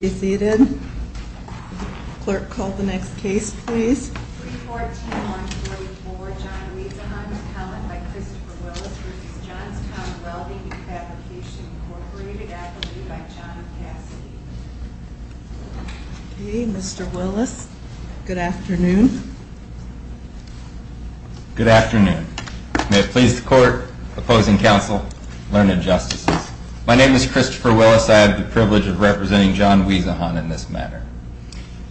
May it please the Court, Opposing Counsel, Learned Justices. My name is Christopher Willis. I have the privilege of representing John Wiesehan in this matter.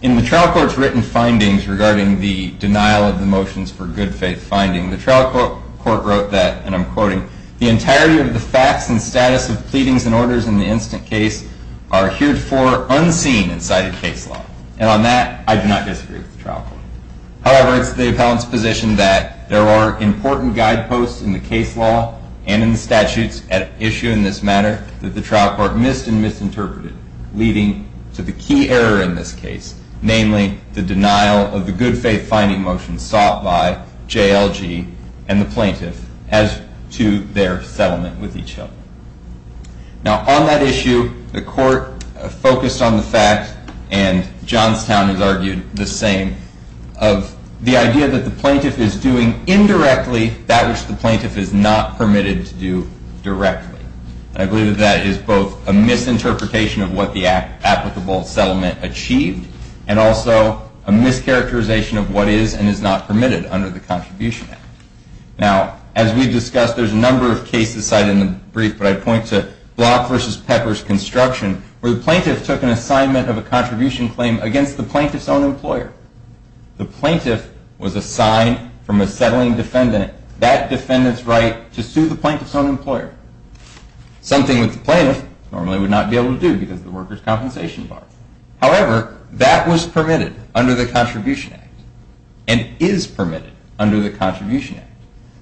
In the trial court's written findings regarding the denial of the motions for good faith finding, the trial court wrote that, and I'm quoting, the entirety of the facts and status of pleadings and orders in the instant case are heared for unseen in cited case law. And on that, I do not disagree with the trial court. However, it's the appellant's position that there are important guideposts in the case law and in the statutes at issue in this matter that the trial court missed and misinterpreted, leading to the key error in this case, namely the denial of the good faith finding motion sought by JLG and the plaintiff as to their settlement with each other. Now, on that issue, the court focused on the fact, and Johnstown has argued the same, of the idea that the plaintiff is doing indirectly that which the plaintiff is not permitted to do directly. And I believe that that is both a misinterpretation of what the applicable settlement achieved, and also a mischaracterization of what is and is not permitted under the Contribution Act. Now, as we've discussed, there's a number of cases cited in the brief. But I point to Block v. Pepper's construction, where the plaintiff took an assignment of a contribution claim against the plaintiff's own employer. The plaintiff was assigned from a settling defendant that defendant's right to sue the plaintiff's own employer, something that the plaintiff normally would not be able to do because of the workers' compensation bar. However, that was permitted under the Contribution Act, and is permitted under the Contribution Act.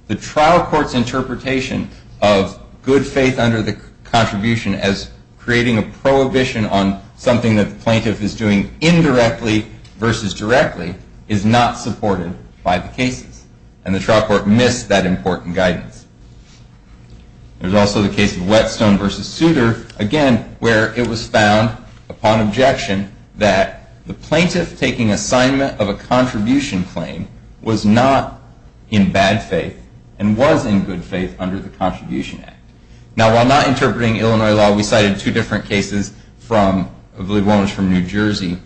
The trial court's interpretation of good faith under the contribution as creating a prohibition on something that the plaintiff is doing indirectly versus directly is not supported by the cases. And the trial court missed that important guidance. There's also the case of Whetstone v. Souter, again, where it was found, upon objection, that the plaintiff taking assignment of a contribution claim was not in bad faith, and was in good faith under the Contribution Act. Now, while not interpreting Illinois law, we cited two different cases from, the one was from New Jersey,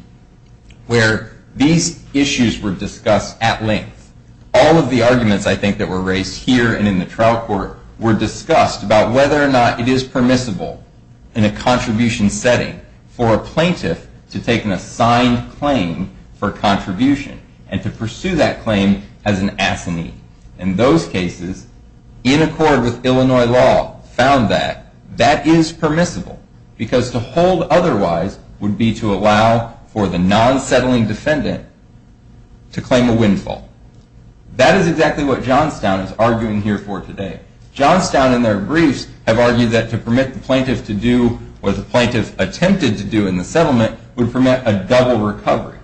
where these issues were discussed at length. All of the arguments, I think, that were raised here and in the trial court were discussed about whether or not it is permissible in a contribution setting for a plaintiff to take an assigned claim for contribution, and to pursue that claim as an assignee. In those cases, in accord with Illinois law, found that that is permissible, because to hold otherwise would be to allow for the non-settling defendant to claim a windfall. That is exactly what Johnstown is arguing here for today. Johnstown, in their briefs, have argued that to permit the plaintiff to do, or the plaintiff attempted to do in the settlement, would permit a double recovery.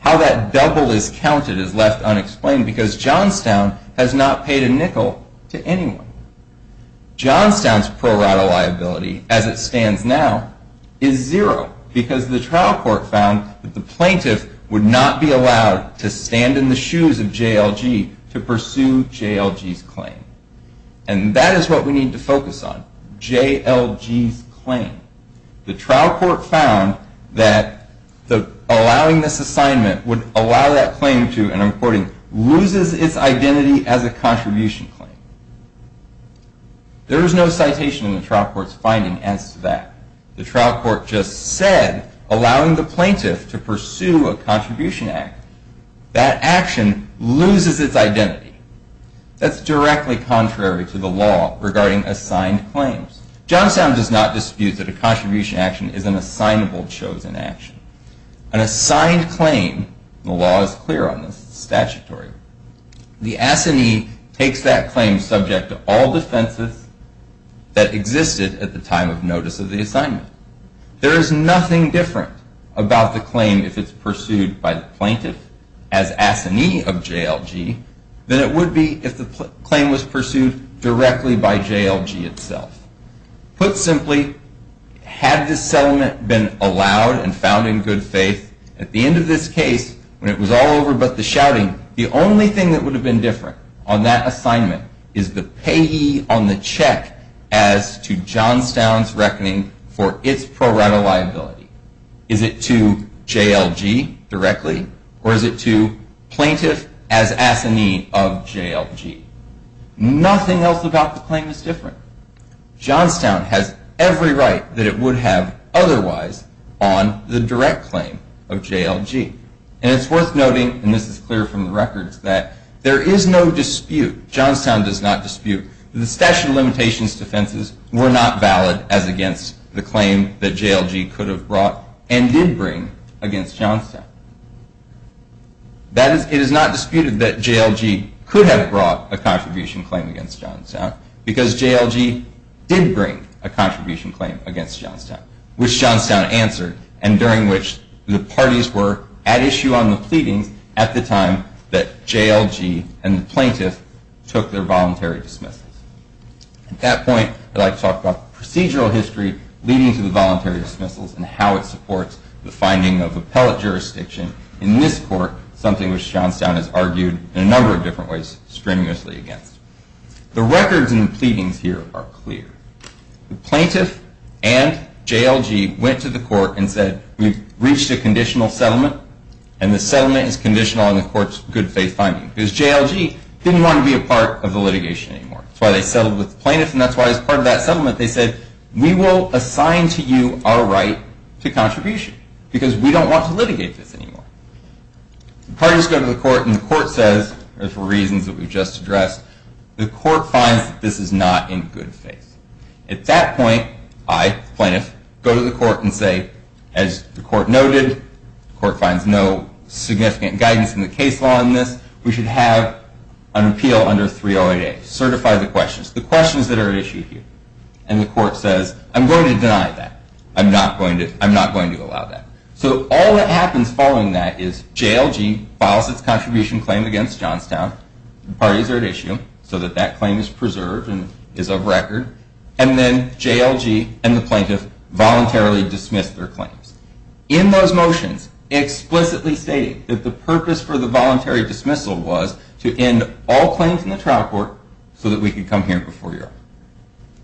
How that double is counted is left unexplained, because Johnstown has not paid a nickel to anyone. Johnstown's pro rata liability, as it stands now, is zero, because the trial court found that the plaintiff would not be allowed to stand in the shoes of JLG to pursue JLG's claim. And that is what we need to focus on, JLG's claim. The trial court found that allowing this assignment would allow that claim to, and I'm quoting, loses its identity as a contribution claim. There is no citation in the trial court's finding as that. The trial court just said, allowing the plaintiff to pursue a contribution act, that action loses its identity. That's directly contrary to the law regarding assigned claims. Johnstown does not dispute that a contribution action is an assignable chosen action. An assigned claim, the law is clear on this, it's statutory, the assignee takes that claim subject to all defenses that existed at the time of notice of the assignment. There is nothing different about the claim if it's pursued by the plaintiff as assignee of JLG than it would be if the claim was pursued directly by JLG itself. Put simply, had this settlement been allowed and found in good faith, at the end of this case, when it was all over but the shouting, the only thing that would have been different on that assignment is the payee on the check as to Johnstown's reckoning for its pro rata liability. Is it to JLG directly, or is it to plaintiff as assignee of JLG? Nothing else about the claim is different. Johnstown has every right that it would have otherwise on the direct claim of JLG. And it's worth noting, and this is clear from the records, that there is no dispute, Johnstown does not dispute, the statute of limitations defenses were not valid as against the claim that JLG could have brought and did bring against Johnstown. That is, it is not disputed that JLG could have brought a contribution claim against Johnstown, because JLG did bring a contribution claim against Johnstown, which Johnstown answered, and during which the parties were at issue on the pleadings at the time that JLG and the plaintiff took their voluntary dismissals. At that point, I'd like to talk about procedural history leading to the voluntary dismissals and how it supports the finding of appellate jurisdiction in this court, something which Johnstown has argued in a number of different ways strenuously against. The records in the pleadings here are clear. The plaintiff and JLG went to the court and said, we've reached a conditional settlement, and the settlement is conditional on the court's good faith finding, because JLG didn't want to be a part of the litigation anymore. That's why they settled with the plaintiff, and that's why as part of that settlement, they said, we will assign to you our right to contribution, because we don't want to litigate this anymore. The parties go to the court, and the court says, for reasons that we've just addressed, the court finds that this is not in good faith. At that point, I, the plaintiff, go to the court and say, as the court noted, the court finds no significant guidance in the case law on this. We should have an appeal under 308A, certify the questions, the questions that are at issue here. And the court says, I'm going to deny that. I'm not going to allow that. So all that happens following that is JLG files its contribution claim against Johnstown. Parties are at issue, so that that claim is preserved and is of record. And then JLG and the plaintiff voluntarily dismiss their claims. In those motions, explicitly stating that the purpose for the voluntary dismissal was to end all claims in the trial court so that we could come here before Europe,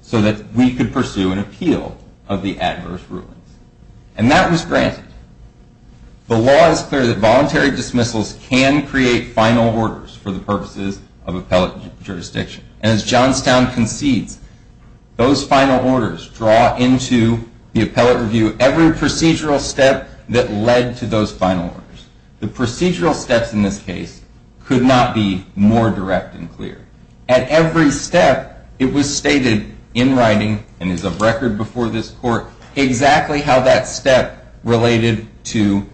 so that we could pursue an appeal of the adverse rulings. And that was granted. The law is clear that voluntary dismissals can create final orders for the purposes of appellate jurisdiction. And as Johnstown concedes, those final orders draw into the appellate review every procedural step that led to those final orders. The procedural steps in this case could not be more direct and clear. At every step, it was stated in writing, and is of record before this court, exactly how that step related to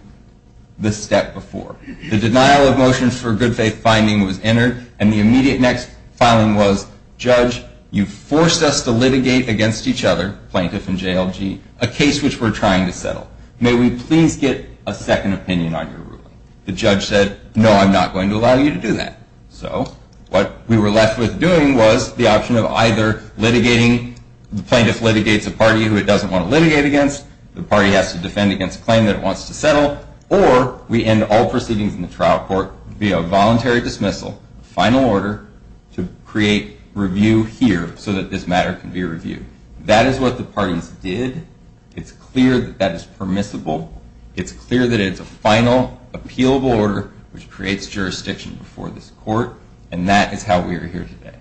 the step before. The denial of motions for good faith finding was entered. And the immediate next filing was, judge, you forced us to litigate against each other, plaintiff and JLG, a case which we're trying to settle. May we please get a second opinion on your ruling? The judge said, no, I'm not going to allow you to do that. So what we were left with doing was the option of either litigating, the plaintiff litigates a party who it doesn't want to litigate against, the party has to defend against a claim that it wants to settle, or we end all proceedings in the trial court via voluntary dismissal, final order to create review here so that this matter can be reviewed. That is what the parties did. It's clear that that is permissible. It's clear that it's a final, appealable order which creates jurisdiction before this court. And that is how we are here today.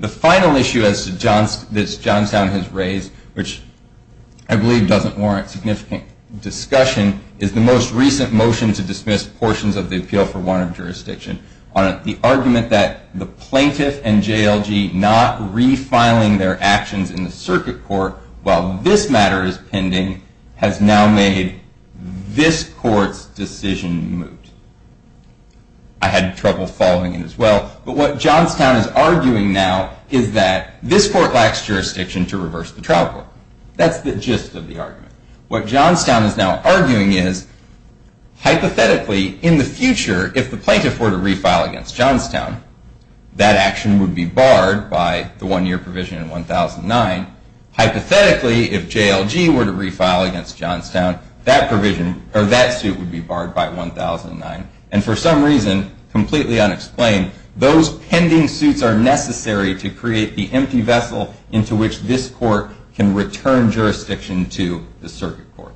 The final issue that Johnstown has raised, which I believe doesn't warrant significant discussion, is the most recent motion to dismiss portions of the Appeal for Warrant of Jurisdiction on the argument that the plaintiff and JLG not refiling their actions in the circuit court while this matter is pending has now made this court's decision moot. I had trouble following it as well. But what Johnstown is arguing now is that this court lacks jurisdiction to reverse the trial court. That's the gist of the argument. What Johnstown is now arguing is, hypothetically, in the future, if the plaintiff were to refile against Johnstown, that action would be barred by the one-year provision in 1009. Hypothetically, if JLG were to refile against Johnstown, that provision, or that suit, would be barred by 1009. And for some reason, completely unexplained, those pending suits are necessary to create the empty vessel into which this court can return jurisdiction to the circuit court.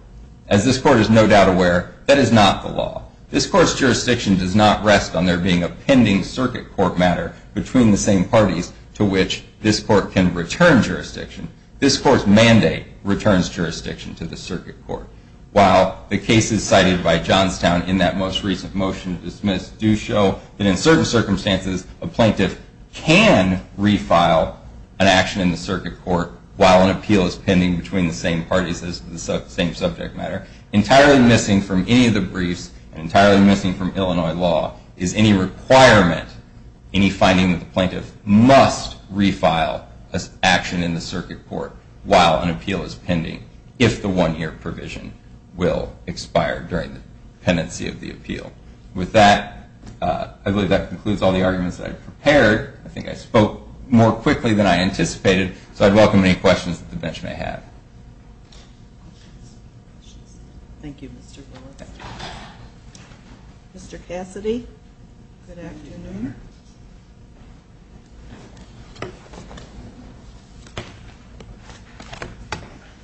As this court is no doubt aware, that is not the law. This court's jurisdiction does not rest on there being a pending circuit court matter between the same parties to which this court can return jurisdiction. This court's mandate returns jurisdiction to the circuit court. While the cases cited by Johnstown in that most recent motion dismissed do show that in certain circumstances, a plaintiff can refile an action in the circuit court while an appeal is pending between the same parties as the same subject matter. Entirely missing from any of the briefs, and entirely missing from Illinois law, is any requirement, any finding that the plaintiff must refile an action in the circuit court while an appeal is pending, if the one-year provision will expire during the pendency of the appeal. With that, I believe that concludes all the arguments that I've prepared. I think I spoke more quickly than I anticipated. So I'd welcome any questions that the bench may have. Thank you, Mr. Lewis. Mr. Cassidy, good afternoon.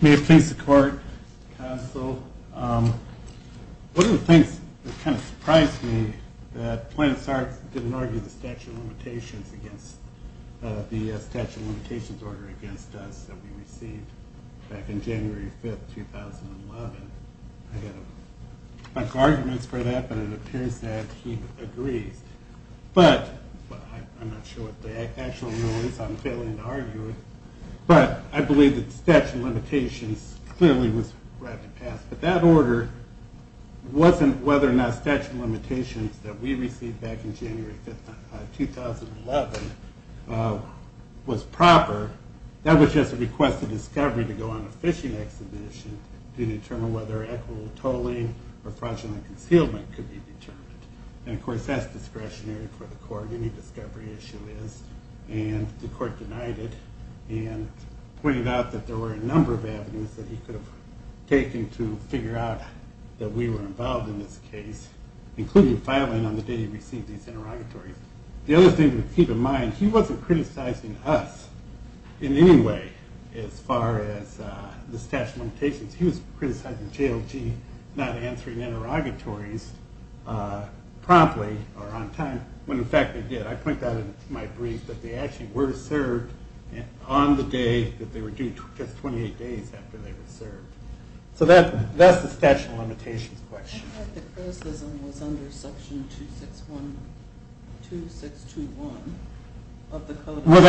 May it please the court, counsel. One of the things that kind of surprised me that Plaintiff's Art didn't argue the statute of limitations against the statute of limitations order against us that we received back in January 5, 2011. I got a bunch of arguments for that, but it appears that he agrees. But I'm not sure what the actual rulings. I'm failing to argue it. But I believe that the statute of limitations clearly was wrapped and passed. But that order wasn't whether or not the statute of limitations that we received back in January 5, 2011 was proper. That was just a request of discovery to go on a fishing exhibition to determine whether equitable tolling or fraudulent concealment could be determined. And of course, that's discretionary for the court. Any discovery issue is. And the court denied it and pointed out that there were a number of avenues that he could have taken to figure out that we were involved in this case, including filing on the day he received these interrogatories. The other thing to keep in mind, he wasn't criticizing us in any way as far as the statute of limitations. He was criticizing JLG not answering interrogatories promptly or on time, when in fact they did. I point that out in my brief that they actually were served on the day that they were due, just 28 days after they were served. So that's the statute of limitations question. I thought the criticism was under section 2621 of the code of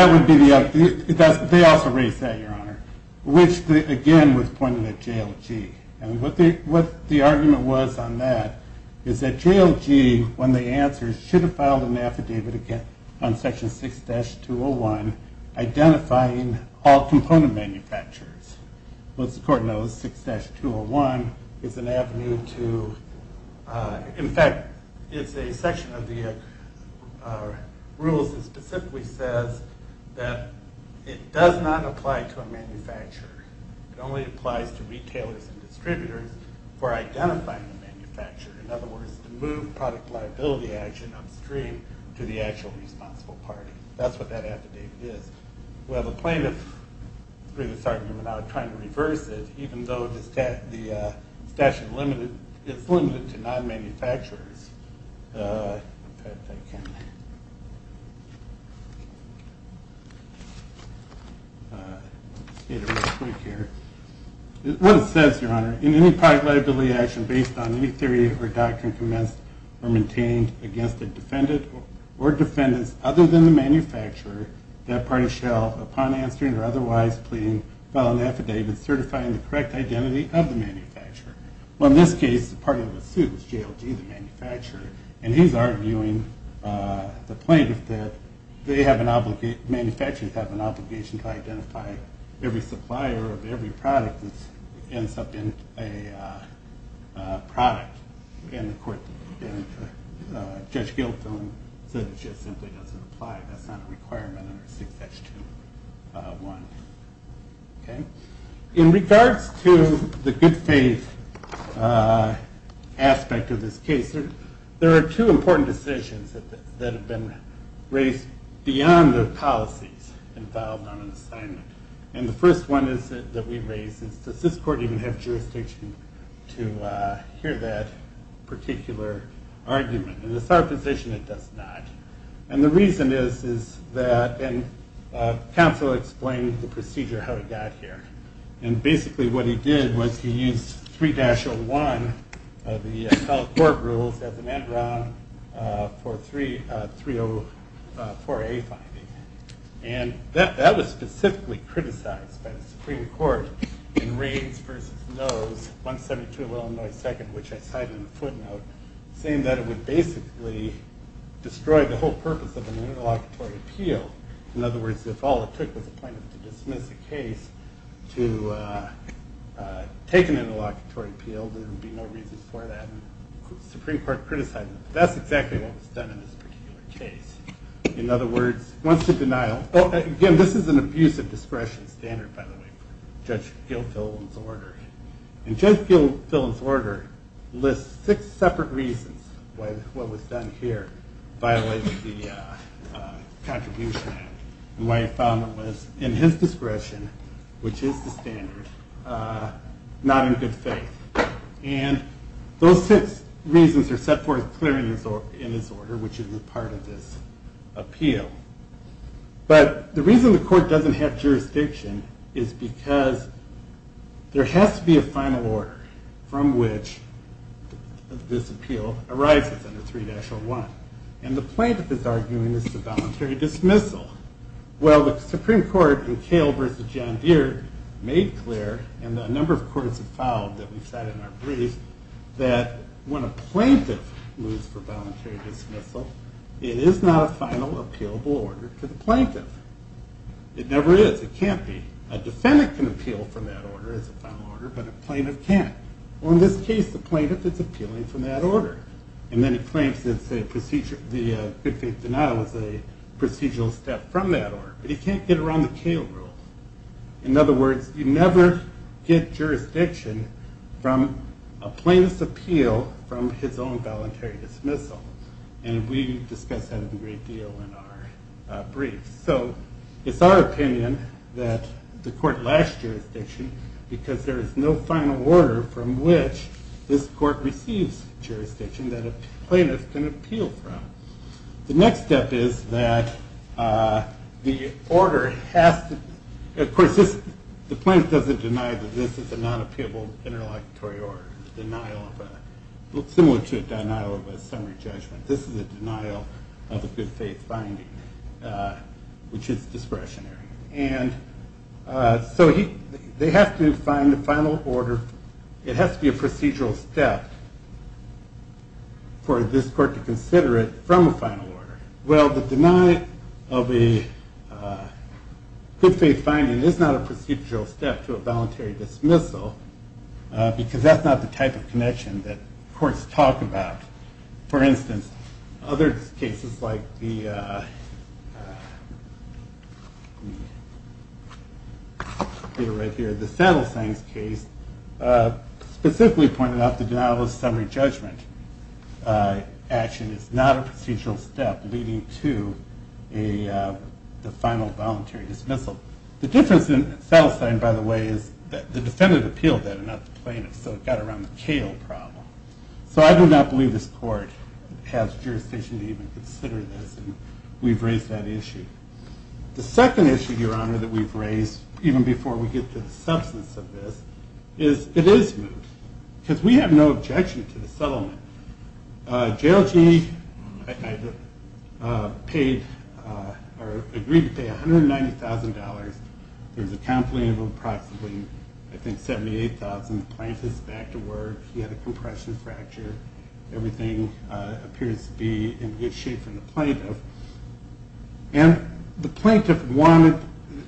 ethics. They also raised that, Your Honor, which, again, was pointed at JLG. And what the argument was on that is that JLG, when they answered, should have filed an affidavit on section 6-201 identifying all component manufacturers. What's important, though, is 6-201 is an avenue to, in fact, it's a section of the rules that specifically says that it does not apply to a manufacturer. It only applies to retailers and distributors for identifying the manufacturer. In other words, to move product liability action upstream to the actual responsible party. That's what that affidavit is. Well, the plaintiff, through this argument, are now trying to reverse it, even though the statute is limited to non-manufacturers. Let's see it real quick here. What it says, Your Honor, in any product liability action based on any theory or doctrine commenced or maintained against a defendant or defendants other than the manufacturer, that party shall, upon answering or otherwise pleading, file an affidavit certifying the correct identity of the manufacturer. Well, in this case, part of the suit was JLG, the manufacturer. And he's arguing, the plaintiff, that they have an obligation, manufacturers have an obligation to identify every supplier of every product that ends up in a product. And the court, Judge Gilfillan, said it just simply doesn't apply. That's not a requirement under 6-2-1. In regards to the good faith aspect of this case, there are two important decisions that have been raised beyond the policies involved on an assignment. And the first one is that we raise is does this court even have jurisdiction to hear that particular argument? In the third position, it does not. And the reason is that, and counsel explained the procedure how it got here. And basically what he did was he used 3-01 of the appellate court rules as an end round for a 304A finding. And that was specifically criticized by the Supreme Court, 172 Illinois 2nd, which I cited in the footnote, saying that it would basically destroy the whole purpose of an interlocutory appeal. In other words, if all it took was a plaintiff to dismiss a case to take an interlocutory appeal, there would be no reason for that. Supreme Court criticized it. That's exactly what was done in this particular case. In other words, once the denial, again, this is an abuse of discretion standard, by the way, Judge Gilfillan's order. And Judge Gilfillan's order lists six separate reasons why what was done here violated the contribution act and why he found it was in his discretion, which is the standard, not in good faith. And those six reasons are set forth clearly in this order, which is a part of this appeal. But the reason the court doesn't have jurisdiction is because there has to be a final order from which this appeal arises under 3-1. And the plaintiff is arguing this is a voluntary dismissal. Well, the Supreme Court in Cale versus John Deere made clear, and a number of courts have found that we've said in our brief, that when a plaintiff moves for voluntary dismissal, it is not a final, appealable order to the plaintiff. It never is. It can't be. A defendant can appeal from that order as a final order, but a plaintiff can't. Well, in this case, the plaintiff is appealing from that order. And then he claims that the good faith denial is a procedural step from that order. But he can't get around the Cale rule. In other words, you never get jurisdiction from a plaintiff's appeal from his own voluntary dismissal. And we discuss that a great deal in our brief. So it's our opinion that the court lacks jurisdiction because there is no final order from which this court receives jurisdiction that a plaintiff can appeal from. The next step is that the order has to, of course, the plaintiff doesn't deny that this is a non-appealable interlocutory order, similar to a denial of a summary judgment. This is a denial of a good faith finding, which is discretionary. And so they have to find a final order. It has to be a procedural step for this court to consider it from a final order. Well, the denial of a good faith finding is not a procedural step to a voluntary dismissal because that's not the type of connection that courts talk about. For instance, other cases like the Sattelsheim case specifically pointed out the denial of a summary judgment action is not a procedural step leading to the final voluntary dismissal. The difference in Sattelsheim, by the way, is that the defendant appealed that and not the plaintiff. So it got around the Cale problem. So I do not believe this court has jurisdiction to even consider this. We've raised that issue. The second issue, Your Honor, that we've raised, even before we get to the substance of this, is it is moot because we have no objection to the settlement. JLG agreed to pay $190,000. There's a complaint of approximately, I think, $78,000. The plaintiff's back to work. He had a compression fracture. Everything appears to be in good shape from the plaintiff. And the plaintiff wanted,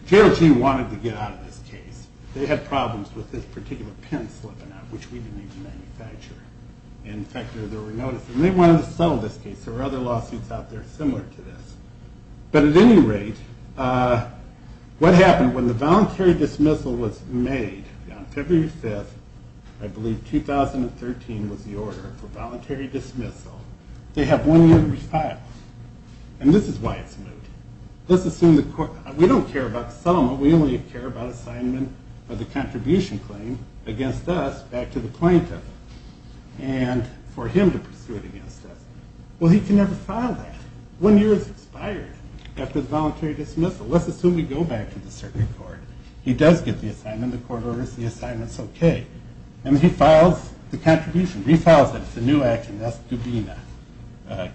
JLG wanted to get out of this case. They had problems with this particular pin slipping out, which we didn't even manufacture. And in fact, there were notices. And they wanted to settle this case. There were other lawsuits out there similar to this. But at any rate, what happened when the voluntary dismissal was made on February 5th, I believe, 2013 was the order for voluntary dismissal, they have one year to refile. And this is why it's moot. Let's assume the court, we don't care about the settlement. We only care about assignment of the contribution claim against us back to the plaintiff and for him to pursue it against us. Well, he can never file that. One year has expired after the voluntary dismissal. Let's assume we go back to the circuit court. He does get the assignment. The court orders the assignment's okay. And he files the contribution, refiles it. It's a new action. That's Dubina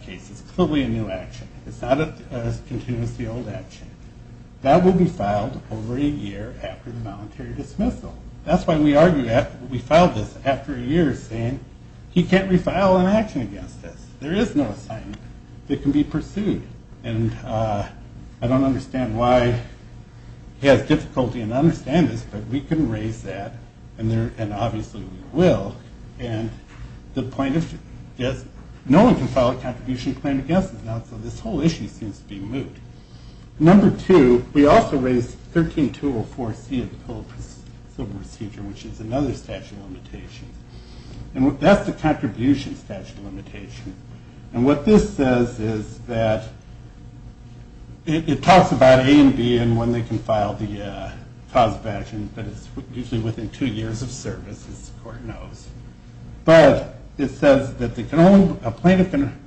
case. It's clearly a new action. It's not as continued as the old action. That will be filed over a year after the voluntary dismissal. That's why we argue that we filed this after a year, saying he can't refile an action against us. There is no assignment that can be pursued. And I don't understand why he has difficulty in understanding this, but we can raise that. And obviously we will. And the plaintiff, yes. No one can file a contribution claim against us now. So this whole issue seems to be moot. Number two, we also raised 13-204-C in the pillow civil procedure, which is another statute of limitations. And that's the contribution statute of limitation. And what this says is that it talks about A and B and when they can file the cause of action, but it's usually within two years of service, as the court knows. But it says that a plaintiff can,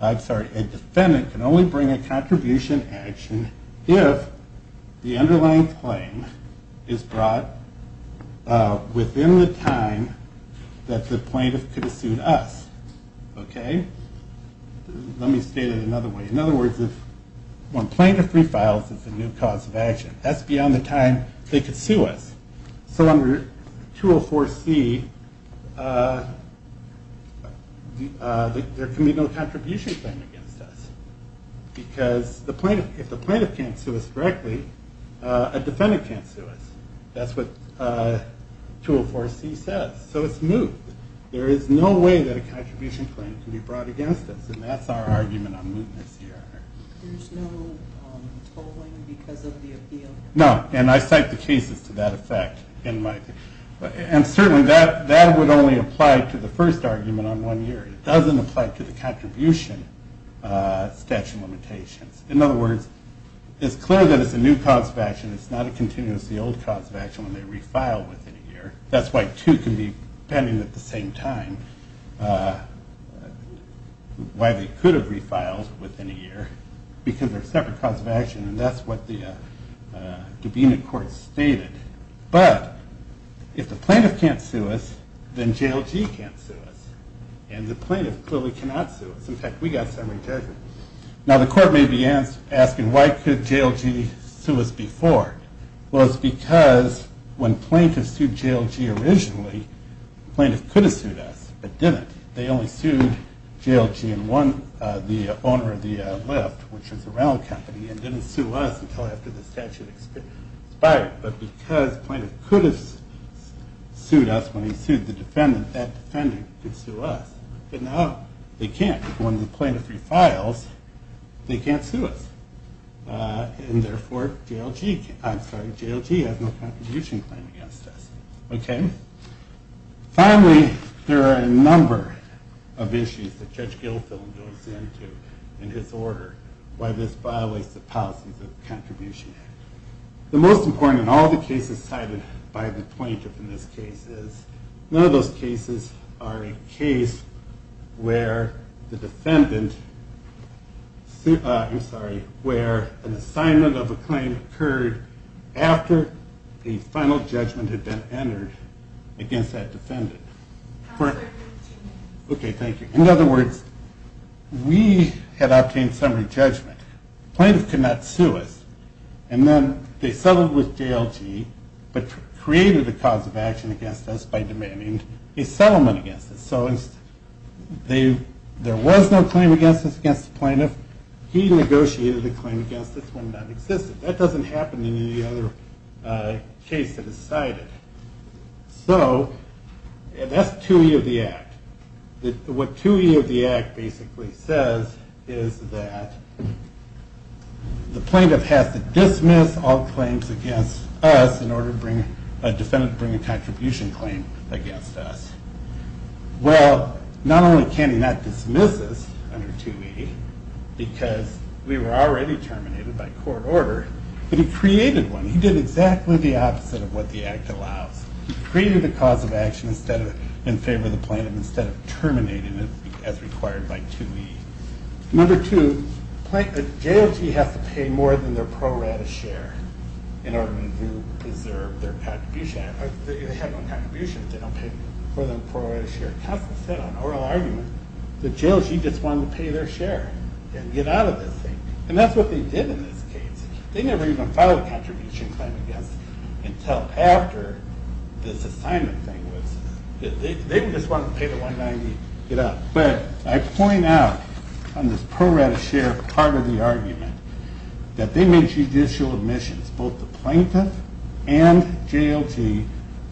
I'm sorry, a defendant can only bring a contribution action if the underlying claim is brought within the time that the plaintiff could have sued us. Okay? Let me state it another way. In other words, if one plaintiff refiles, it's a new cause of action. That's beyond the time they could sue us. So under 204-C, there can be no contribution claim against us because if the plaintiff can't sue us directly, a defendant can't sue us. That's what 204-C says. So it's moot. There is no way that a contribution claim can be brought against us. And that's our argument on mootness here. There's no tolling because of the appeal? No, and I cite the cases to that effect in my, and certainly that would only apply to the first argument on one year. It doesn't apply to the contribution statute of limitations. In other words, it's clear that it's a new cause of action. It's not a continuously old cause of action when they refile within a year. That's why two can be pending at the same time. Why they could have refiled within a year because they're a separate cause of action. And that's what the Dubena court stated. But if the plaintiff can't sue us, then JLG can't sue us. And the plaintiff clearly cannot sue us. In fact, we got summary judgment. Now the court may be asking, why could JLG sue us before? Well, it's because when plaintiff sued JLG originally, plaintiff could have sued us, but didn't. They only sued JLG and the owner of the Lyft, which was a rental company, and didn't sue us until after the statute expired. But because plaintiff could have sued us when he sued the defendant, that defendant could sue us. But now they can't. When the plaintiff refiles, they can't sue us. And therefore, JLG, I'm sorry, JLG has no contribution claim against us. Okay. Finally, there are a number of issues that Judge Gilfillan goes into in his order, why this violates the policies of the Contribution Act. The most important in all the cases cited by the plaintiff in this case is, none of those cases are a case where the defendant, I'm sorry, where an assignment of a claim occurred after a final judgment had been entered against that defendant. Okay, thank you. In other words, we had obtained summary judgment. Plaintiff could not sue us. And then they settled with JLG, but created a cause of action against us by demanding a settlement against us. So there was no claim against us against the plaintiff. He negotiated a claim against us when that existed. That doesn't happen in any other case that is cited. So that's 2E of the Act. What 2E of the Act basically says is that the plaintiff has to dismiss all claims against us in order to bring a defendant to bring a contribution claim against us. Well, not only can he not dismiss us under 2E, because we were already terminated by court order, but he created one. He did exactly the opposite of what the Act allows. He created a cause of action in favor of the plaintiff instead of terminating it as required by 2E. Number two, JLG has to pay more than their pro rata share in order to preserve their contribution. They have no contribution if they don't pay more than pro rata share. Counsel said on oral argument that JLG just wanted to pay their share and get out of this thing. And that's what they did in this case. They never even filed a contribution claim against us until after this assignment thing was, they just wanted to pay the 190 and get out. But I point out on this pro rata share part of the argument that they made judicial admissions, both the plaintiff and JLG,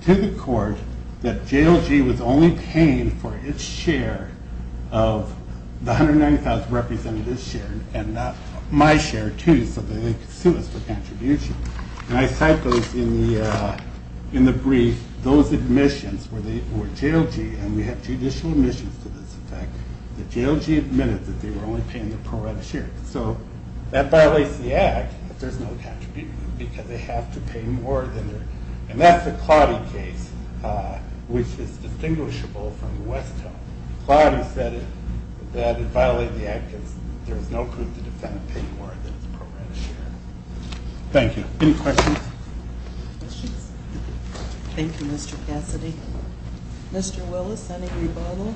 to the court that JLG was only paying for its share of the 190,000 representatives' share and not my share, too, so that they could sue us for contribution. And I cite those in the brief, those admissions were JLG, and we have judicial admissions to this effect, that JLG admitted that they were only paying the pro rata share. So that violates the Act that there's no contribution because they have to pay more than their, and that's the Clottie case, which is distinguishable from the West Coast. Clottie said that it violated the Act because there's no proof the defendant paid more than his pro rata share. Thank you. Any questions? Any questions? Thank you, Mr. Cassidy. Mr. Willis, any rebuttal?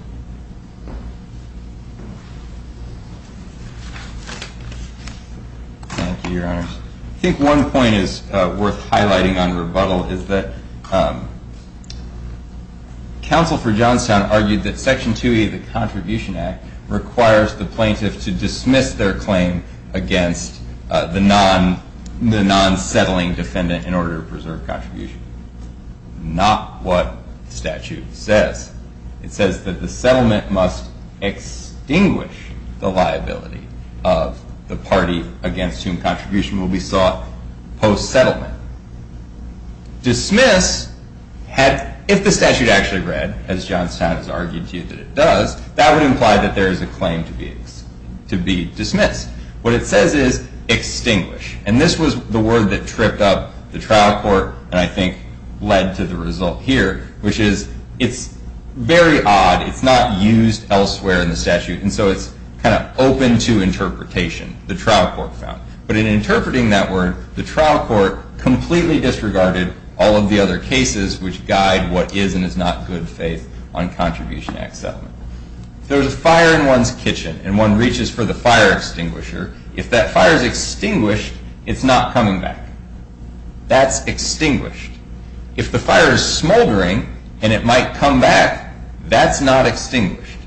Thank you, Your Honor. I think one point is worth highlighting on rebuttal is that counsel for Johnstown argued that Section 2E, the Contribution Act, requires the plaintiff to dismiss their claim against the non-settling defendant in order to preserve contribution. Not what statute says. It says that the settlement must extinguish the liability of the party against whom contribution will be sought post-settlement. Dismiss, if the statute actually read, as Johnstown has argued to you that it does, that would imply that there is a claim to be dismissed. What it says is extinguish, and this was the word that tripped up the trial court and I think led to the result here, which is it's very odd. It's not used elsewhere in the statute, and so it's kind of open to interpretation, the trial court found. But in interpreting that word, the trial court completely disregarded all of the other cases which guide what is and is not good faith on Contribution Act settlement. If there's a fire in one's kitchen and one reaches for the fire extinguisher, if that fire is extinguished, it's not coming back. That's extinguished. If the fire is smoldering and it might come back, that's not extinguished.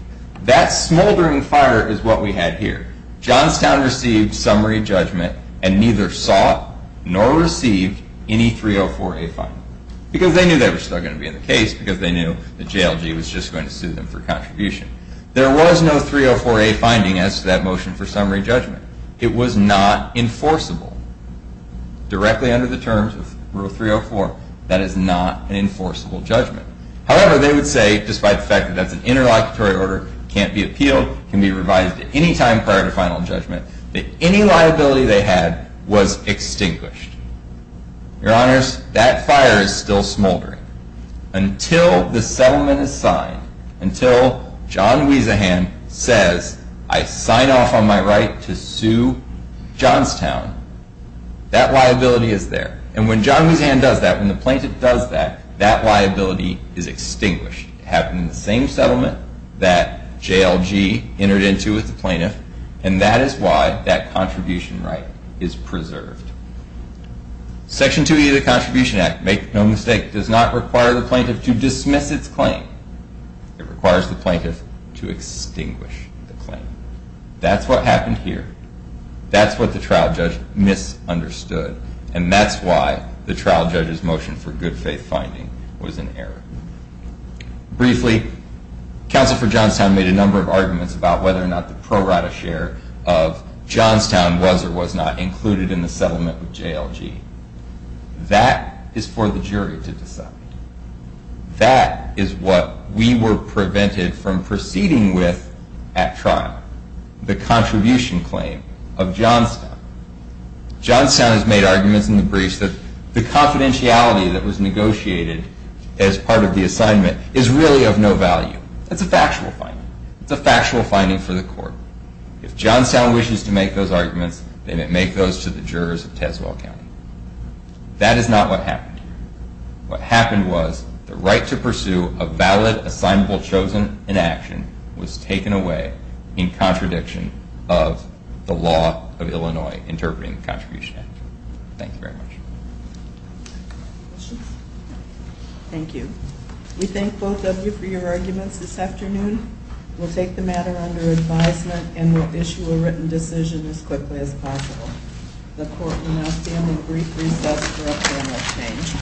That smoldering fire is what we had here. Johnstown received summary judgment and neither sought nor received any 304A finding. Because they knew they were still gonna be in the case because they knew that JLG was just going to sue them for contribution. There was no 304A finding as to that motion for summary judgment. It was not enforceable. Directly under the terms of Rule 304, that is not an enforceable judgment. However, they would say, despite the fact that that's an interlocutory order, can't be appealed, can be revised at any time prior to final judgment, that any liability they had was extinguished. Your honors, that fire is still smoldering. Until the settlement is signed, until John Wiesahan says, I sign off on my right to sue Johnstown, that liability is there. And when John Wiesahan does that, when the plaintiff does that, that liability is extinguished. It happened in the same settlement that JLG entered into with the plaintiff and that is why that contribution right is preserved. Section 2E of the Contribution Act, make no mistake, does not require the plaintiff to dismiss its claim. It requires the plaintiff to extinguish the claim. That's what happened here. That's what the trial judge misunderstood and that's why the trial judge's motion for good faith finding was an error. Briefly, Counselor for Johnstown made a number of arguments about whether or not the pro rata share of Johnstown was or was not included in the settlement with JLG. That is for the jury to decide. That is what we were prevented from proceeding with at trial, the contribution claim of Johnstown. Johnstown has made arguments in the briefs that the confidentiality that was negotiated as part of the assignment is really of no value. It's a factual finding. It's a factual finding for the court. If Johnstown wishes to make those arguments, they may make those to the jurors of Tazewell County. That is not what happened. What happened was the right to pursue a valid assignable chosen in action was taken away in contradiction of the law of Illinois interpreting the Contribution Act. Thank you very much. Thank you. We thank both of you for your arguments this afternoon. We'll take the matter under advisement and we'll issue a written decision as quickly as possible. The court will now stand in brief recess for a formal change.